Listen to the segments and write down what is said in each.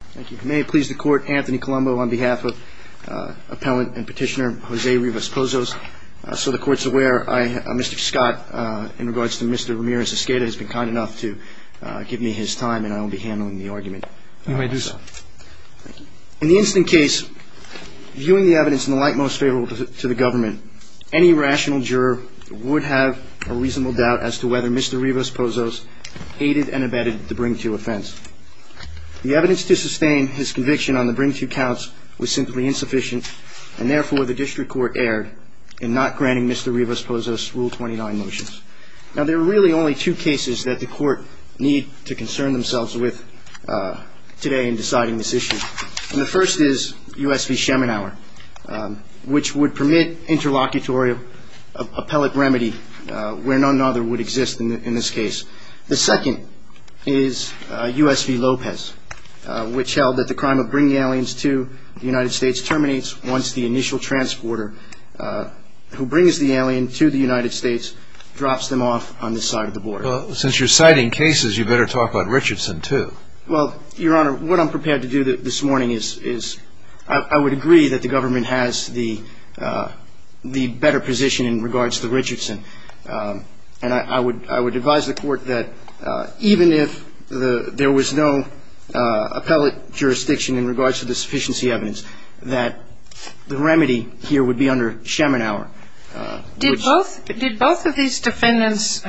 Thank you. May it please the Court, Anthony Colombo on behalf of Appellant and Petitioner Jose Rivas-Pozos. So the Court's aware, Mr. Scott, in regards to Mr. Ramirez-Escada, has been kind enough to give me his time and I will be handling the argument. You may do so. In the instant case, viewing the evidence in the light most favorable to the government, any rational juror would have a reasonable doubt as to whether Mr. Rivas-Pozos aided and abetted the bring-to offense. The evidence to sustain his conviction on the bring-to counts was simply insufficient and therefore the District Court erred in not granting Mr. Rivas-Pozos Rule 29 motions. Now there are really only two cases that the Court need to concern themselves with today in deciding this issue. And the first is U.S. v. Schemenauer, which would permit interlocutory appellate remedy where none other would exist in this case. The second is U.S. v. Lopez, which held that the crime of bringing aliens to the United States terminates once the initial transporter who brings the alien to the United States drops them off on this side of the border. Well, since you're citing cases, you better talk about Richardson, too. Well, Your Honor, what I'm prepared to do this morning is I would agree that the government has the better position in regards to Richardson. And I would advise the Court that even if there was no appellate jurisdiction in regards to the sufficiency evidence, that the remedy here would be under Schemenauer. Did both of these defendants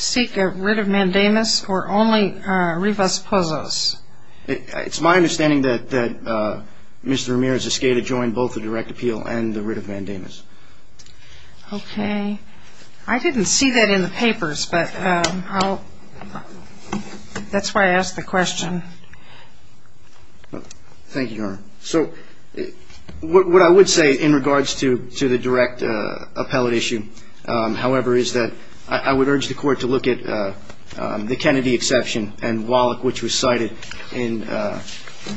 seek a writ of mandamus or only Rivas-Pozos? It's my understanding that Mr. Ramirez eschated both the direct appeal and the writ of mandamus. Okay. I didn't see that in the papers, but that's why I asked the question. Thank you, Your Honor. So what I would say in regards to the direct appellate issue, however, is that I would urge the Court to look at the Kennedy exception and Wallach, which was cited in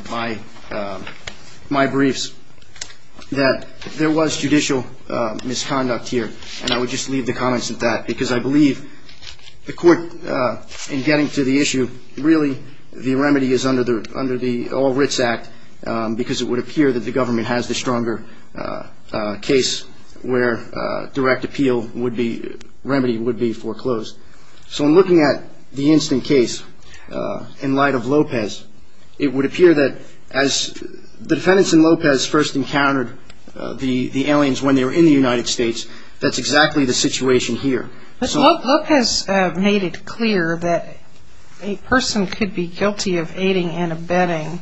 my briefs, that there was judicial misconduct here. And I would just leave the comments at that because I believe the Court, in getting to the issue, really the remedy is under the All Writs Act because it would appear that the government has the stronger case where direct appeal remedy would be foreclosed. So in looking at the instant case in light of Lopez, it would appear that as the defendants in Lopez first encountered the aliens when they were in the United States, that's exactly the situation here. But Lopez made it clear that a person could be guilty of aiding and abetting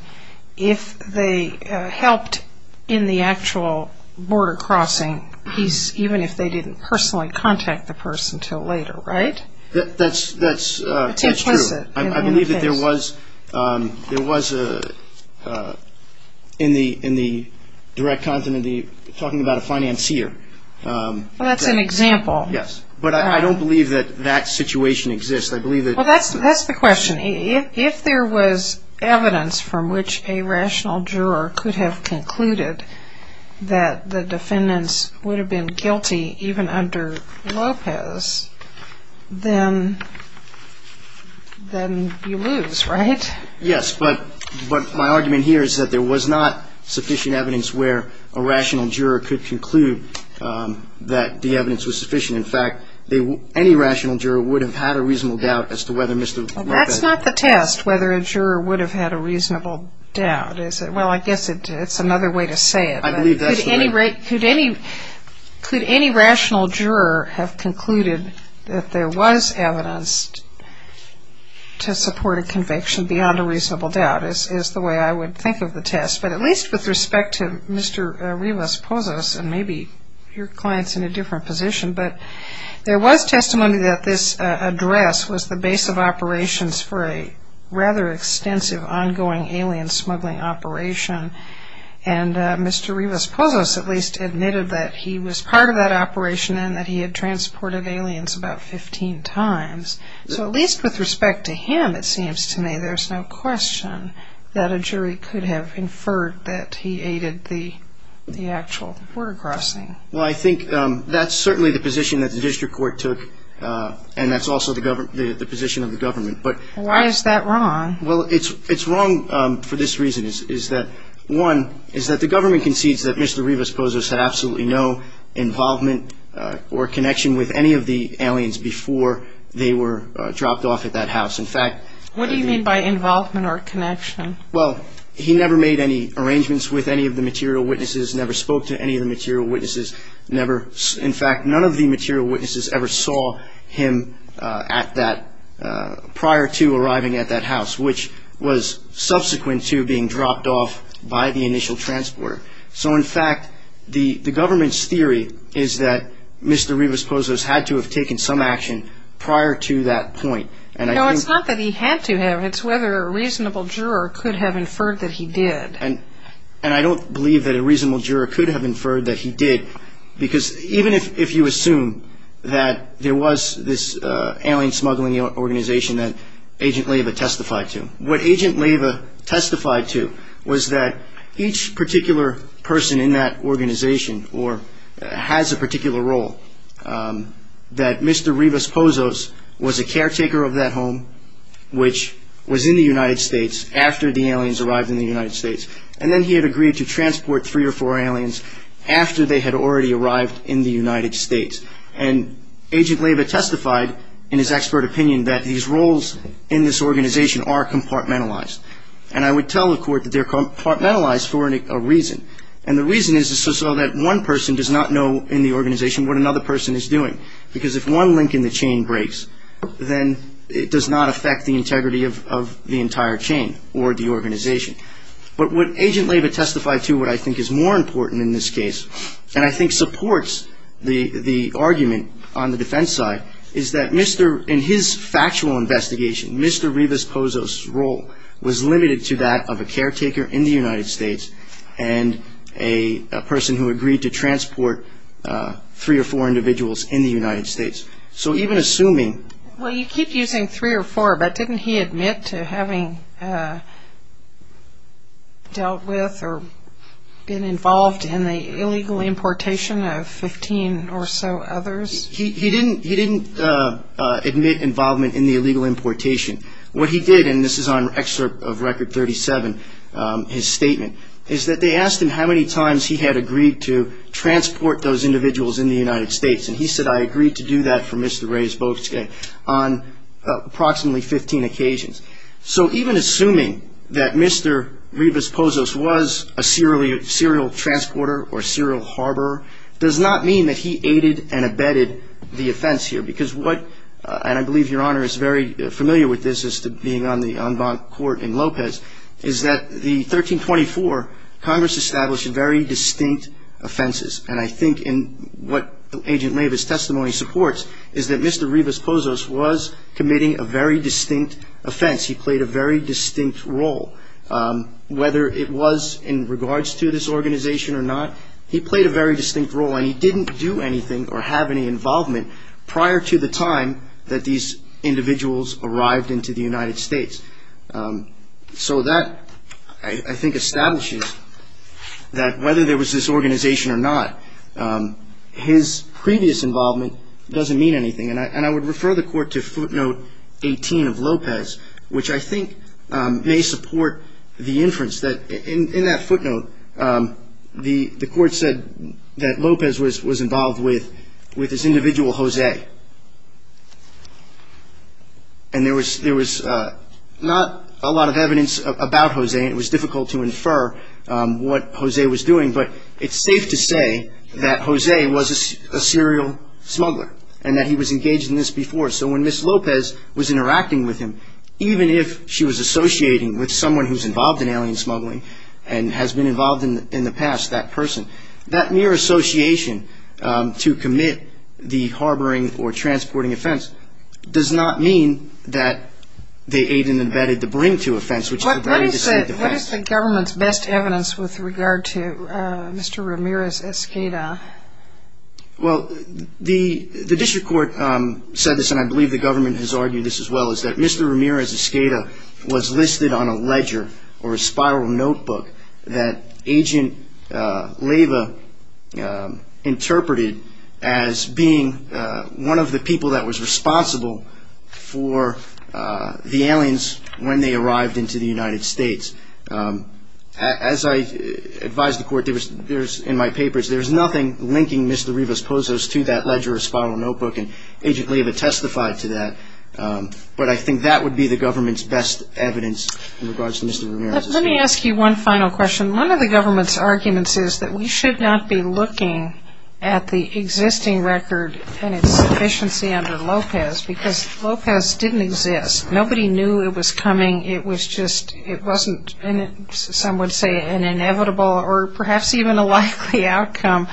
if they helped in the actual border crossing piece, even if they didn't personally contact the person until later, right? That's true. I believe that there was, in the direct content, talking about a financier. Well, that's an example. Yes, but I don't believe that that situation exists. Well, that's the question. If there was evidence from which a rational juror could have concluded that the defendants would have been guilty, even under Lopez, then you lose, right? Yes, but my argument here is that there was not sufficient evidence where a rational juror could conclude that the evidence was sufficient. In fact, any rational juror would have had a reasonable doubt as to whether Mr. Lopez. Well, that's not the test, whether a juror would have had a reasonable doubt. Well, I guess it's another way to say it. I believe that's the way. Could any rational juror have concluded that there was evidence to support a conviction beyond a reasonable doubt, is the way I would think of the test. But at least with respect to Mr. Rivas Pozos, and maybe your client's in a different position, but there was testimony that this address was the base of operations for a rather extensive ongoing alien smuggling operation, and Mr. Rivas Pozos at least admitted that he was part of that operation and that he had transported aliens about 15 times. So at least with respect to him, it seems to me, there's no question that a jury could have inferred that he aided the actual border crossing. Well, I think that's certainly the position that the district court took, and that's also the position of the government. Why is that wrong? Well, it's wrong for this reason, is that, one, is that the government concedes that Mr. Rivas Pozos had absolutely no involvement or connection with any of the aliens before they were dropped off at that house. What do you mean by involvement or connection? Well, he never made any arrangements with any of the material witnesses, never spoke to any of the material witnesses. In fact, none of the material witnesses ever saw him prior to arriving at that house, which was subsequent to being dropped off by the initial transporter. So, in fact, the government's theory is that Mr. Rivas Pozos had to have taken some action prior to that point. No, it's not that he had to have. It's whether a reasonable juror could have inferred that he did. And I don't believe that a reasonable juror could have inferred that he did, because even if you assume that there was this alien smuggling organization that Agent Leyva testified to, what Agent Leyva testified to was that each particular person in that organization or has a particular role, that Mr. Rivas Pozos was a caretaker of that home, which was in the United States after the aliens arrived in the United States. And then he had agreed to transport three or four aliens after they had already arrived in the United States. And Agent Leyva testified in his expert opinion that his roles in this organization are compartmentalized. And I would tell the court that they're compartmentalized for a reason. And the reason is so that one person does not know in the organization what another person is doing, because if one link in the chain breaks, then it does not affect the integrity of the entire chain or the organization. But what Agent Leyva testified to, what I think is more important in this case, and I think supports the argument on the defense side, is that in his factual investigation, Mr. Rivas Pozos' role was limited to that of a caretaker in the United States and a person who agreed to transport three or four individuals in the United States. So even assuming – Well, you keep using three or four, but didn't he admit to having dealt with or been involved in the illegal importation of 15 or so others? He didn't admit involvement in the illegal importation. What he did, and this is on excerpt of Record 37, his statement, is that they asked him how many times he had agreed to transport those individuals in the United States. And he said, I agreed to do that for Mr. Reyes-Bosque on approximately 15 occasions. So even assuming that Mr. Rivas Pozos was a serial transporter or serial harborer does not mean that he aided and abetted the offense here, because what – and I believe Your Honor is very familiar with this as to being on the en banc court in Lopez – is that the 1324, Congress established very distinct offenses. And I think in what Agent Rivas' testimony supports is that Mr. Rivas Pozos was committing a very distinct offense. He played a very distinct role. Whether it was in regards to this organization or not, he played a very distinct role, and he didn't do anything or have any involvement prior to the time that these individuals arrived into the United States. So that, I think, establishes that whether there was this organization or not, his previous involvement doesn't mean anything. And I would refer the Court to footnote 18 of Lopez, which I think may support the inference that in that footnote, the Court said that Lopez was involved with this individual, Jose. And there was not a lot of evidence about Jose, and it was difficult to infer what Jose was doing, but it's safe to say that Jose was a serial smuggler and that he was engaged in this before. So when Ms. Lopez was interacting with him, even if she was associating with someone who's involved in alien smuggling and has been involved in the past, that person, that mere association to commit the harboring or transporting offense does not mean that they aided and abetted the bring-to offense, which is a very distinct offense. What is the government's best evidence with regard to Mr. Ramirez's escada? Well, the District Court said this, and I believe the government has argued this as well, is that Mr. Ramirez's escada was listed on a ledger or a spiral notebook that Agent Leyva interpreted as being one of the people that was responsible for the aliens when they arrived into the United States. As I advised the Court in my papers, there's nothing linking Mr. Rivas-Pozos to that ledger or spiral notebook, and Agent Leyva testified to that. But I think that would be the government's best evidence in regards to Mr. Ramirez's escada. Let me ask you one final question. One of the government's arguments is that we should not be looking at the existing record and its sufficiency under Lopez because Lopez didn't exist. Nobody knew it was coming. It wasn't, some would say, an inevitable or perhaps even a likely outcome.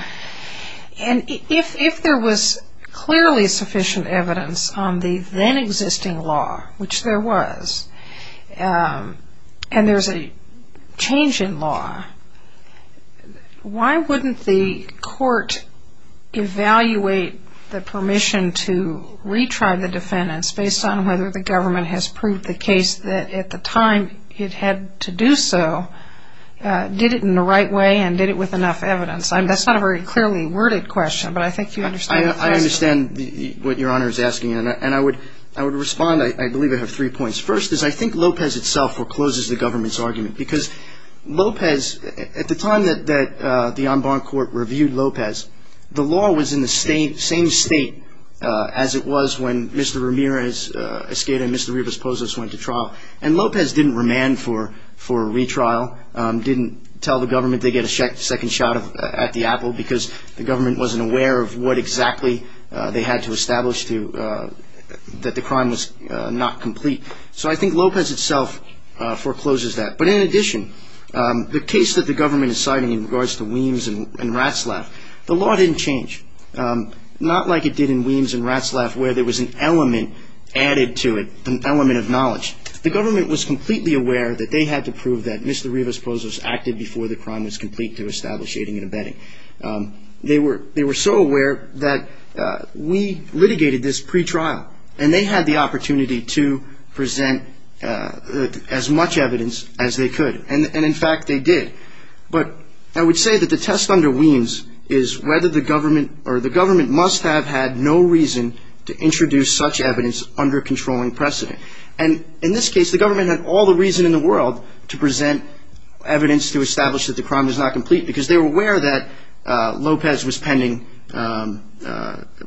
And if there was clearly sufficient evidence on the then-existing law, which there was, and there's a change in law, why wouldn't the Court evaluate the permission to retry the defendants based on whether the government has proved the case that at the time it had to do so, did it in the right way, and did it with enough evidence? That's not a very clearly worded question, but I think you understand the question. I understand what Your Honor is asking, and I would respond. I believe I have three points. First is I think Lopez itself forecloses the government's argument because Lopez, at the time that the en banc Court reviewed Lopez, the law was in the same state as it was when Mr. Ramirez Esqueda and Mr. Rivas-Pozos went to trial, and Lopez didn't remand for a retrial, didn't tell the government they get a second shot at the apple because the government wasn't aware of what exactly they had to establish that the crime was not complete. So I think Lopez itself forecloses that. But in addition, the case that the government is citing in regards to Weems and Ratzlaff, the law didn't change, not like it did in Weems and Ratzlaff where there was an element added to it, an element of knowledge. The government was completely aware that they had to prove that Mr. Rivas-Pozos acted before the crime was complete to establish aiding and abetting. They were so aware that we litigated this pretrial, and they had the opportunity to present as much evidence as they could, and in fact they did. But I would say that the test under Weems is whether the government or the government must have had no reason to introduce such evidence under controlling precedent. And in this case, the government had all the reason in the world to present evidence to establish that the crime was not complete because they were aware that Lopez was pending,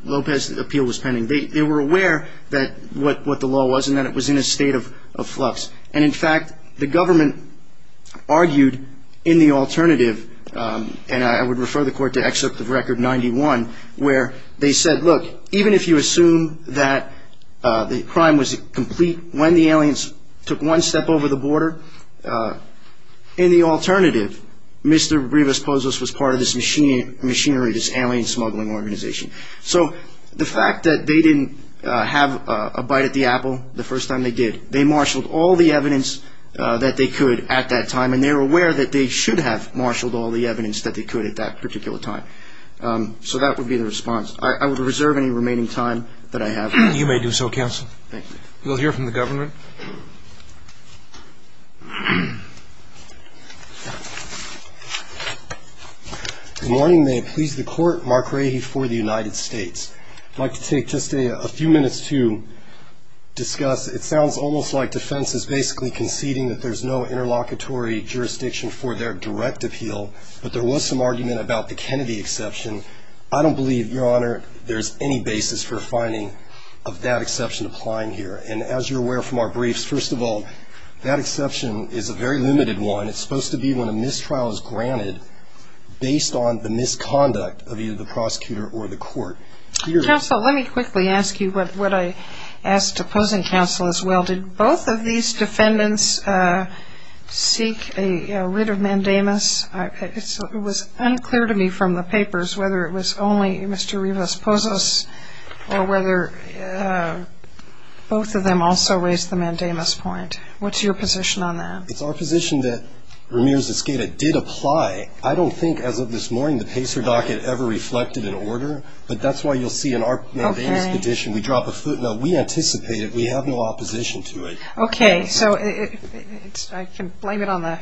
Lopez's appeal was pending. They were aware that what the law was and that it was in a state of flux. And in fact, the government argued in the alternative, and I would refer the court to Excerpt of Record 91, where they said, look, even if you assume that the crime was complete when the aliens took one step over the border, in the alternative, Mr. Rivas-Pozos was part of this machinery, this alien smuggling organization. So the fact that they didn't have a bite at the apple the first time they did, they marshaled all the evidence that they could at that time, and they were aware that they should have marshaled all the evidence that they could at that particular time. So that would be the response. I would reserve any remaining time that I have. You may do so, counsel. Thank you. We'll hear from the government. Good morning. May it please the Court. Mark Rahe for the United States. I'd like to take just a few minutes to discuss. It sounds almost like defense is basically conceding that there's no interlocutory jurisdiction for their direct appeal, but there was some argument about the Kennedy exception. I don't believe, Your Honor, there's any basis for finding of that exception applying here. And as you're aware from our briefs, first of all, that exception is a very limited one. It's supposed to be when a mistrial is granted based on the misconduct of either the prosecutor or the court. Counsel, let me quickly ask you what I asked opposing counsel as well. Did both of these defendants seek a writ of mandamus? It was unclear to me from the papers whether it was only Mr. Rivas-Pozos or whether both of them also raised the mandamus point. What's your position on that? It's our position that Ramirez-Escada did apply. I don't think as of this morning the PACER docket ever reflected an order, but that's why you'll see in our mandamus petition we drop a footnote. We anticipate it. We have no opposition to it. Okay. So I can blame it on the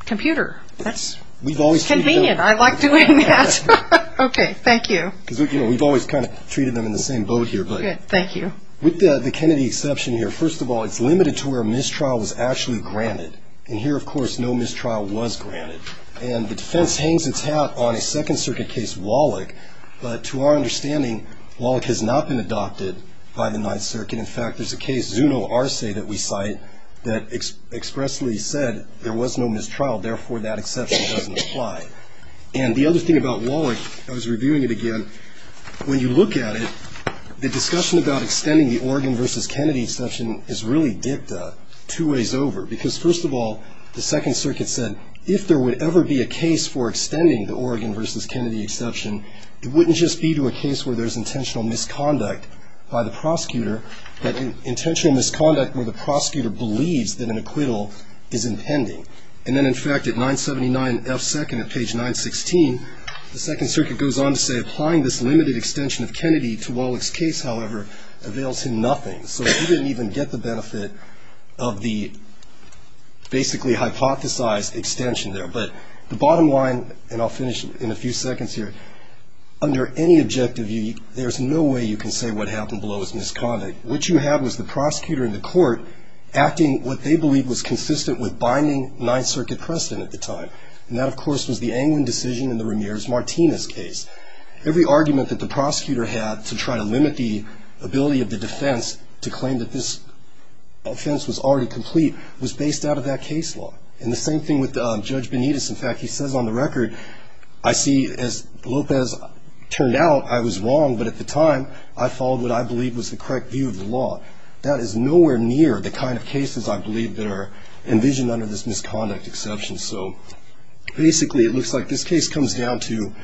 computer. That's convenient. I like doing that. Okay. Thank you. We've always kind of treated them in the same boat here. Thank you. With the Kennedy exception here, first of all, it's limited to where a mistrial was actually granted. And here, of course, no mistrial was granted. And the defense hangs its hat on a Second Circuit case Wallach, but to our understanding, Wallach has not been adopted by the Ninth Circuit. In fact, there's a case, Zuno Arce, that we cite that expressly said there was no mistrial, therefore that exception doesn't apply. And the other thing about Wallach, I was reviewing it again, when you look at it, the discussion about extending the Oregon v. Kennedy exception is really dipped two ways over, because first of all, the Second Circuit said, if there would ever be a case for extending the Oregon v. Kennedy exception, it wouldn't just be to a case where there's intentional misconduct by the prosecutor, but intentional misconduct where the prosecutor believes that an acquittal is impending. And then, in fact, at 979 F. 2nd at page 916, the Second Circuit goes on to say, applying this limited extension of Kennedy to Wallach's case, however, avails him nothing. So he didn't even get the benefit of the basically hypothesized extension there. But the bottom line, and I'll finish in a few seconds here, under any objective view, there's no way you can say what happened below is misconduct. What you have is the prosecutor in the court acting what they believed was consistent with binding Ninth Circuit precedent at the time, and that, of course, was the Anglin decision in the Ramirez-Martinez case. Every argument that the prosecutor had to try to limit the ability of the defense to claim that this offense was already complete was based out of that case law. And the same thing with Judge Benitez. In fact, he says on the record, I see, as Lopez turned out, I was wrong, but at the time, I followed what I believed was the correct view of the law. That is nowhere near the kind of cases, I believe, that are envisioned under this misconduct exception. So basically, it looks like this case comes down to,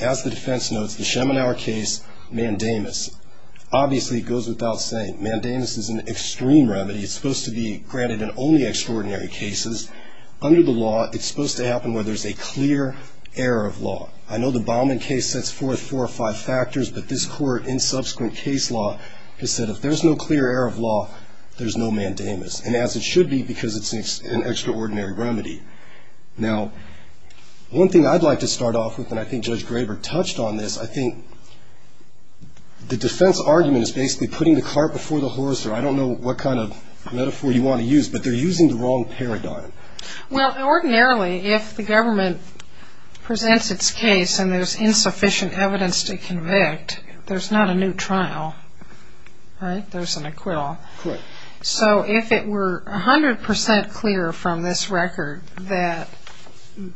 as the defense notes, the Schemanauer case, mandamus. Obviously, it goes without saying, mandamus is an extreme remedy. It's supposed to be granted in only extraordinary cases. Under the law, it's supposed to happen where there's a clear error of law. I know the Baumann case sets forth four or five factors, but this court in subsequent case law has said if there's no clear error of law, there's no mandamus, and as it should be because it's an extraordinary remedy. Now, one thing I'd like to start off with, and I think Judge Graber touched on this, I think the defense argument is basically putting the cart before the horse, or I don't know what kind of metaphor you want to use, but they're using the wrong paradigm. Well, ordinarily, if the government presents its case and there's insufficient evidence to convict, there's not a new trial, right? There's an acquittal. Correct. So if it were 100% clear from this record that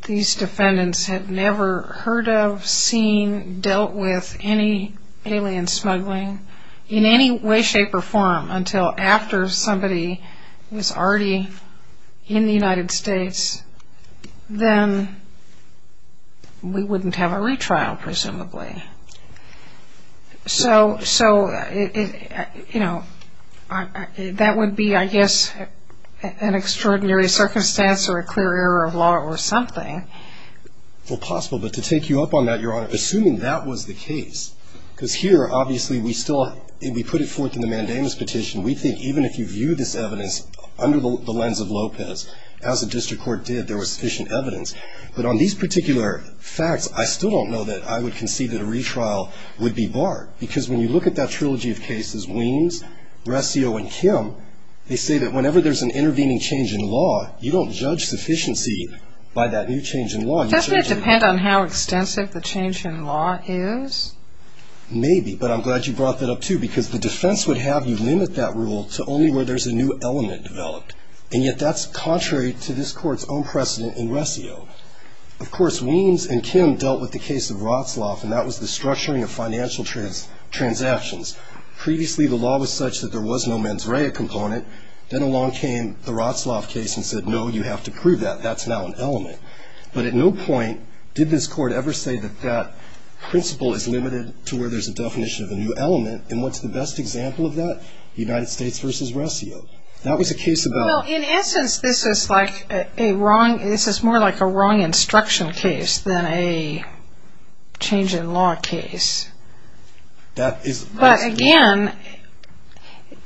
these defendants had never heard of, seen, dealt with any alien smuggling in any way, shape, or form until after somebody was already in the United States, then we wouldn't have a retrial, presumably. So, you know, that would be, I guess, an extraordinary circumstance or a clear error of law or something. Well, possible, but to take you up on that, Your Honor, assuming that was the case, because here, obviously, we still put it forth in the mandamus petition. We think even if you view this evidence under the lens of Lopez, as the district court did, there was sufficient evidence, but on these particular facts, I still don't know that I would concede that a retrial would be barred because when you look at that trilogy of cases, Weems, Rescio, and Kim, they say that whenever there's an intervening change in law, you don't judge sufficiency by that new change in law. Doesn't it depend on how extensive the change in law is? Maybe, but I'm glad you brought that up, too, because the defense would have you limit that rule to only where there's a new element developed, and yet that's contrary to this Court's own precedent in Rescio. Of course, Weems and Kim dealt with the case of Rotsloff, and that was the structuring of financial transactions. Previously, the law was such that there was no mens rea component. Then along came the Rotsloff case and said, no, you have to prove that. That's now an element. But at no point did this Court ever say that that principle is limited to where there's a definition of a new element, The United States v. Rescio. Well, in essence, this is more like a wrong instruction case than a change in law case. But again,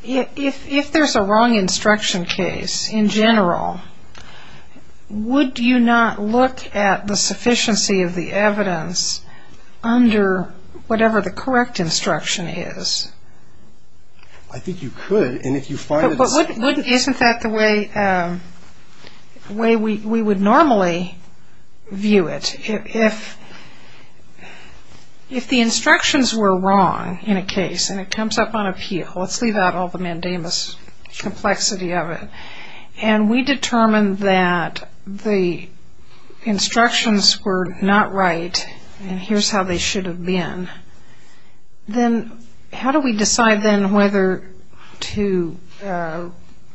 if there's a wrong instruction case in general, would you not look at the sufficiency of the evidence under whatever the correct instruction is? I think you could, and if you find it's... But isn't that the way we would normally view it? If the instructions were wrong in a case, and it comes up on appeal, let's leave out all the mandamus complexity of it, and we determine that the instructions were not right, and here's how they should have been, then how do we decide then whether to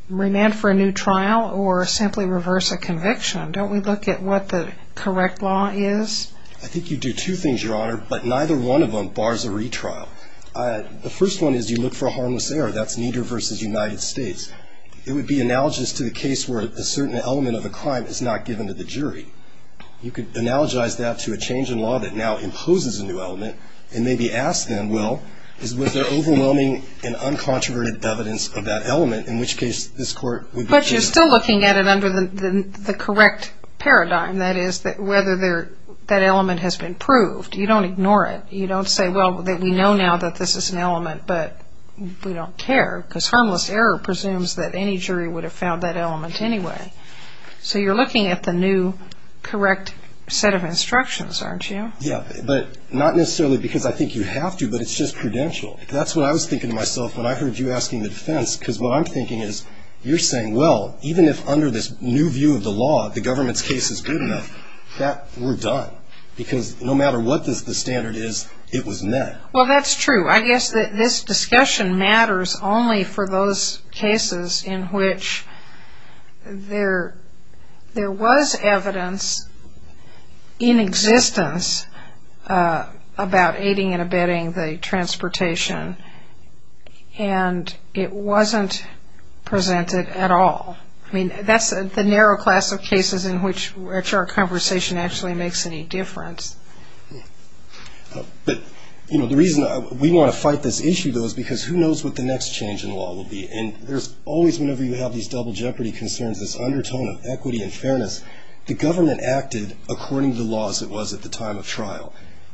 remand for a new trial or simply reverse a conviction? Don't we look at what the correct law is? I think you do two things, Your Honor, but neither one of them bars a retrial. The first one is you look for a harmless error. That's Nieder v. United States. It would be analogous to the case where a certain element of a crime is not given to the jury. You could analogize that to a change in law that now imposes a new element and maybe ask them, well, was there overwhelming and uncontroverted evidence of that element, in which case this Court would be... But you're still looking at it under the correct paradigm, that is whether that element has been proved. You don't ignore it. You don't say, well, we know now that this is an element, but we don't care, because harmless error presumes that any jury would have found that element anyway. So you're looking at the new correct set of instructions, aren't you? Yeah, but not necessarily because I think you have to, but it's just prudential. That's what I was thinking to myself when I heard you asking the defense, because what I'm thinking is you're saying, well, even if under this new view of the law, the government's case is good enough, that we're done, because no matter what the standard is, it was met. Well, that's true. I guess this discussion matters only for those cases in which there was evidence in existence about aiding and abetting the transportation, and it wasn't presented at all. I mean, that's the narrow class of cases in which our conversation actually makes any difference. But, you know, the reason we want to fight this issue, though, is because who knows what the next change in law will be. And there's always, whenever you have these double jeopardy concerns, this undertone of equity and fairness, the government acted according to the laws it was at the time of trial.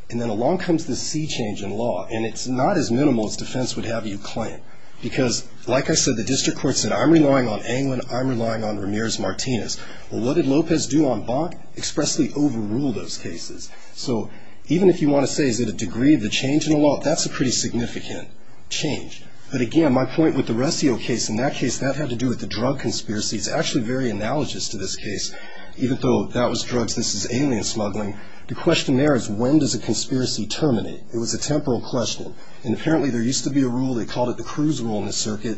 And then along comes this sea change in law, and it's not as minimal as defense would have you claim, because like I said, the district court said, I'm relying on Anglin, I'm relying on Ramirez-Martinez. Well, what did Lopez do on Bach? Expressly overrule those cases. So even if you want to say, is it a degree of the change in the law? That's a pretty significant change. But again, my point with the Resio case, in that case, that had to do with the drug conspiracy. It's actually very analogous to this case. Even though that was drugs, this is alien smuggling. The question there is, when does a conspiracy terminate? It was a temporal question. And apparently there used to be a rule, they called it the Cruz rule in the circuit,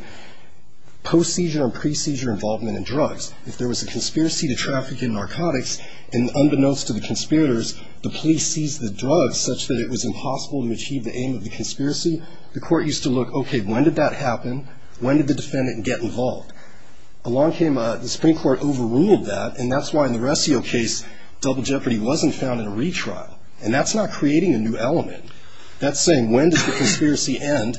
post-seizure and pre-seizure involvement in drugs. If there was a conspiracy to traffic in narcotics, and unbeknownst to the conspirators, the police seized the drugs such that it was impossible to achieve the aim of the conspiracy. The court used to look, okay, when did that happen? When did the defendant get involved? Along came the Supreme Court overruled that, and that's why in the Resio case, double jeopardy wasn't found in a retrial. And that's not creating a new element. That's saying, when does the conspiracy end?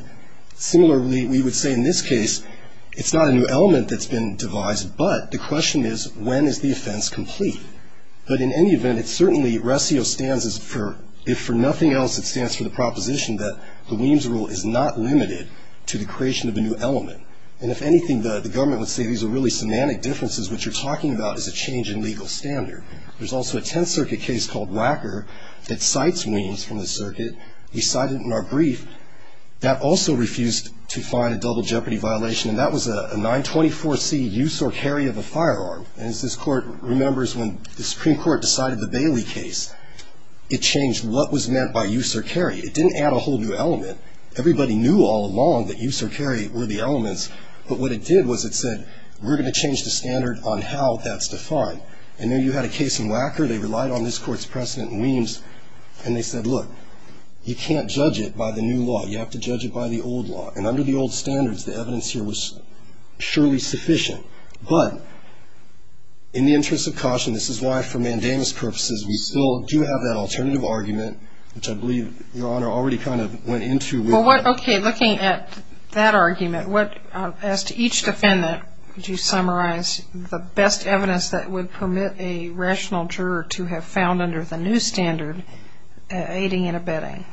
Similarly, we would say in this case, it's not a new element that's been devised, but the question is, when is the offense complete? But in any event, it's certainly, Resio stands for, if for nothing else, it stands for the proposition that the Weems rule is not limited to the creation of a new element. And if anything, the government would say these are really semantic differences, what you're talking about is a change in legal standard. There's also a Tenth Circuit case called Wacker that cites Weems from the circuit. We cite it in our brief. That also refused to find a double jeopardy violation, and that was a 924C use or carry of a firearm. And as this Court remembers, when the Supreme Court decided the Bailey case, it changed what was meant by use or carry. It didn't add a whole new element. Everybody knew all along that use or carry were the elements, but what it did was it said, we're going to change the standard on how that's defined. And then you had a case in Wacker, they relied on this Court's precedent in Weems, and they said, look, you can't judge it by the new law. You have to judge it by the old law. And under the old standards, the evidence here was surely sufficient. But in the interest of caution, this is why for mandamus purposes, we still do have that alternative argument, which I believe Your Honor already kind of went into. Okay. Looking at that argument, what, as to each defendant, would you summarize the best evidence that would permit a rational juror to have found under the new standard aiding and abetting?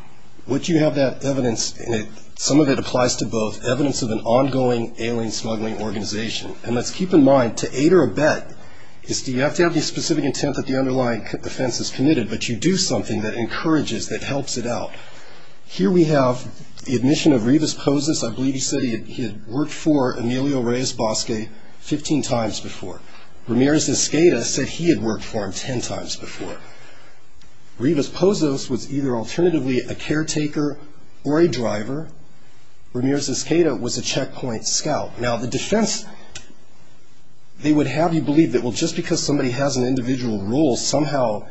What you have that evidence in it, some of it applies to both, evidence of an ongoing ailing, smuggling organization. And let's keep in mind, to aid or abet, you have to have the specific intent that the underlying defense has committed, but you do something that encourages, that helps it out. Here we have the admission of Rivas Pozos. I believe he said he had worked for Emilio Reyes Bosque 15 times before. Ramirez-Escada said he had worked for him 10 times before. Rivas Pozos was either alternatively a caretaker or a driver. Ramirez-Escada was a checkpoint scout. Now, the defense, they would have you believe that, well, just because somebody has an individual role, somehow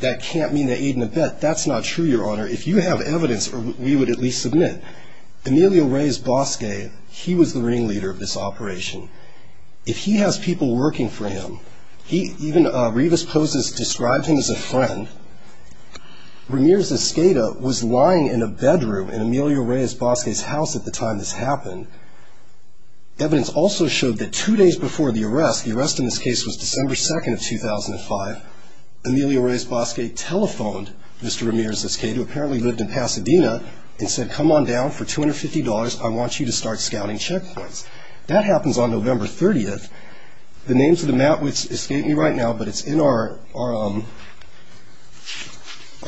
that can't mean they aid and abet. That's not true, Your Honor. If you have evidence, we would at least submit. Emilio Reyes Bosque, he was the ringleader of this operation. If he has people working for him, even Rivas Pozos described him as a friend. Ramirez-Escada was lying in a bedroom in Emilio Reyes Bosque's house at the time this happened. Evidence also showed that two days before the arrest, the arrest in this case was December 2nd of 2005, Emilio Reyes Bosque telephoned Mr. Ramirez-Escada, who apparently lived in Pasadena, and said, come on down for $250, I want you to start scouting checkpoints. That happens on November 30th. The names of the Matwits escape me right now, but it's in our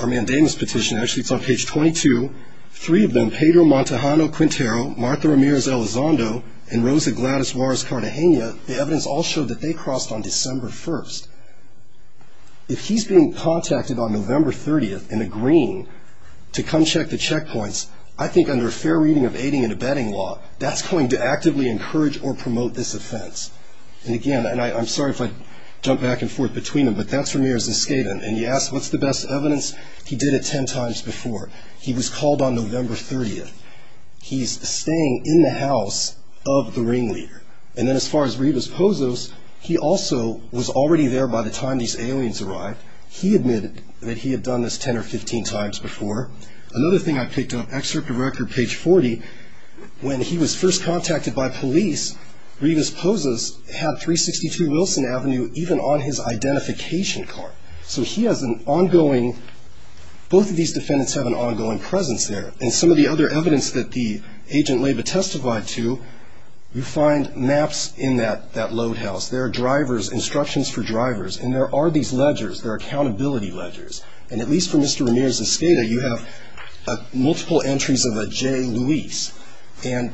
mandamus petition. Actually, it's on page 22. Three of them, Pedro Montajano-Quintero, Martha Ramirez-Elizondo, and Rosa Gladys Juarez-Cartagena, the evidence all showed that they crossed on December 1st. If he's being contacted on November 30th and agreeing to come check the checkpoints, I think under a fair reading of aiding and abetting law, that's going to actively encourage or promote this offense. And again, and I'm sorry if I jump back and forth between them, but that's Ramirez-Escada, and he asked, what's the best evidence? He did it 10 times before. He was called on November 30th. He's staying in the house of the ringleader. And then as far as Rivas-Pozos, he also was already there by the time these aliens arrived. He admitted that he had done this 10 or 15 times before. Another thing I picked up, excerpt of record, page 40. When he was first contacted by police, Rivas-Pozos had 362 Wilson Avenue even on his identification card. So he has an ongoing, both of these defendants have an ongoing presence there. And some of the other evidence that the agent-labor testified to, you find maps in that load house. There are drivers, instructions for drivers, and there are these ledgers. There are accountability ledgers. And at least for Mr. Ramirez-Escada, you have multiple entries of a J. Luis. And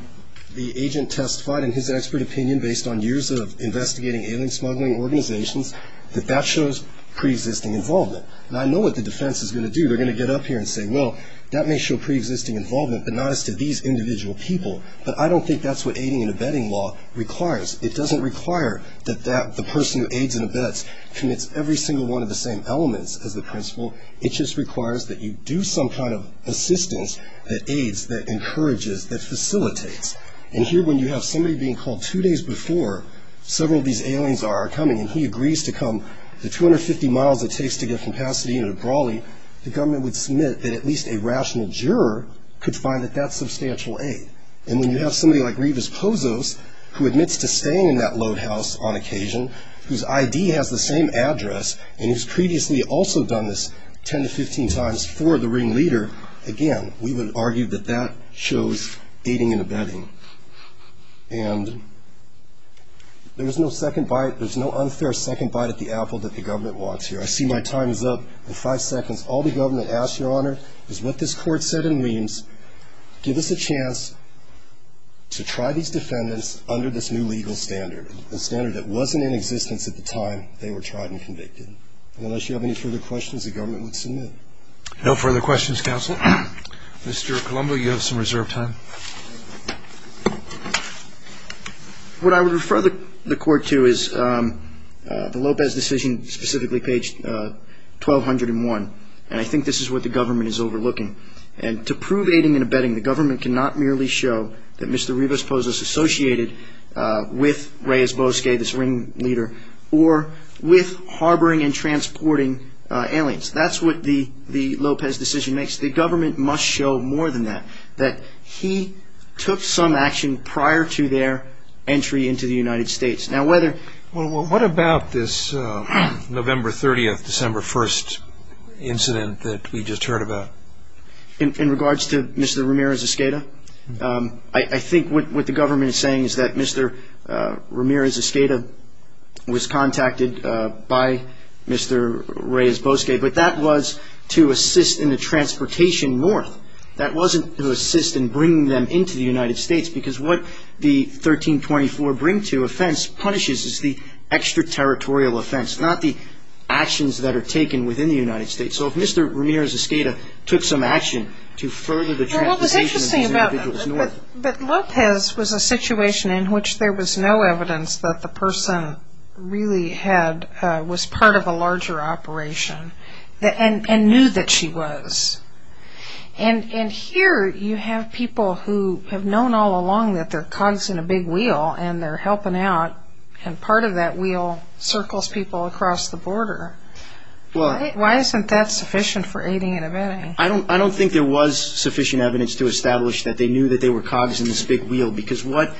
the agent testified in his expert opinion, based on years of investigating alien smuggling organizations, that that shows preexisting involvement. And I know what the defense is going to do. They're going to get up here and say, well, that may show preexisting involvement, but not as to these individual people. But I don't think that's what aiding and abetting law requires. It doesn't require that the person who aids and abets commits every single one of the same elements as the principal. It just requires that you do some kind of assistance that aids, that encourages, that facilitates. And here, when you have somebody being called two days before several of these aliens are coming, and he agrees to come the 250 miles it takes to get from Pasadena to Brawley, the government would submit that at least a rational juror could find that that's substantial aid. And when you have somebody like Rivas Pozos, who admits to staying in that load house on occasion, whose ID has the same address, and who's previously also done this 10 to 15 times for the ringleader, again, we would argue that that shows aiding and abetting. And there's no second bite. There's no unfair second bite at the apple that the government wants here. I see my time is up in five seconds. All the government asks, Your Honor, is what this court said and means, give us a chance to try these defendants under this new legal standard, a standard that wasn't in existence at the time they were tried and convicted. Unless you have any further questions, the government would submit. No further questions, counsel. Mr. Colombo, you have some reserved time. What I would refer the court to is the Lopez decision, specifically page 1201. And I think this is what the government is overlooking. And to prove aiding and abetting, the government cannot merely show that Mr. Rivas Pozo is associated with Reyes Bosque, this ringleader, or with harboring and transporting aliens. That's what the Lopez decision makes. The government must show more than that, that he took some action prior to their entry into the United States. What about this November 30th, December 1st incident that we just heard about? In regards to Mr. Ramirez-Escada, I think what the government is saying is that Mr. Ramirez-Escada was contacted by Mr. Reyes Bosque, but that was to assist in the transportation north. That wasn't to assist in bringing them into the United States, because what the 1324 bring to offense punishes is the extraterritorial offense, not the actions that are taken within the United States. So if Mr. Ramirez-Escada took some action to further the transportation of these individuals north. But Lopez was a situation in which there was no evidence that the person really was part of a larger operation, and knew that she was. And here you have people who have known all along that they're cogs in a big wheel, and they're helping out, and part of that wheel circles people across the border. Why isn't that sufficient for aiding and abetting? I don't think there was sufficient evidence to establish that they knew that they were cogs in this big wheel, because what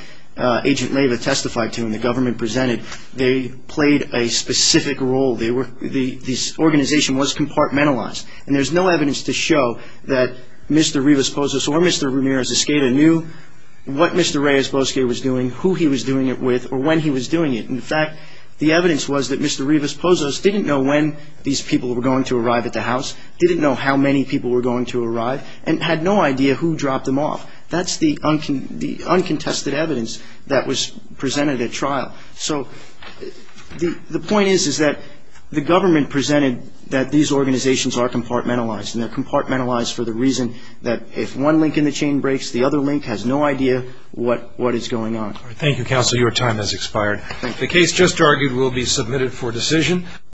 Agent Leyva testified to and the government presented, they played a specific role. This organization was compartmentalized, and there's no evidence to show that Mr. Rivas-Pozos or Mr. Ramirez-Escada knew what Mr. Reyes Bosque was doing, who he was doing it with, or when he was doing it. In fact, the evidence was that Mr. Rivas-Pozos didn't know when these people were going to arrive at the house, didn't know how many people were going to arrive, and had no idea who dropped them off. That's the uncontested evidence that was presented at trial. So the point is, is that the government presented that these organizations are compartmentalized, and they're compartmentalized for the reason that if one link in the chain breaks, the other link has no idea what is going on. Thank you, counsel. Your time has expired. The case just argued will be submitted for decision.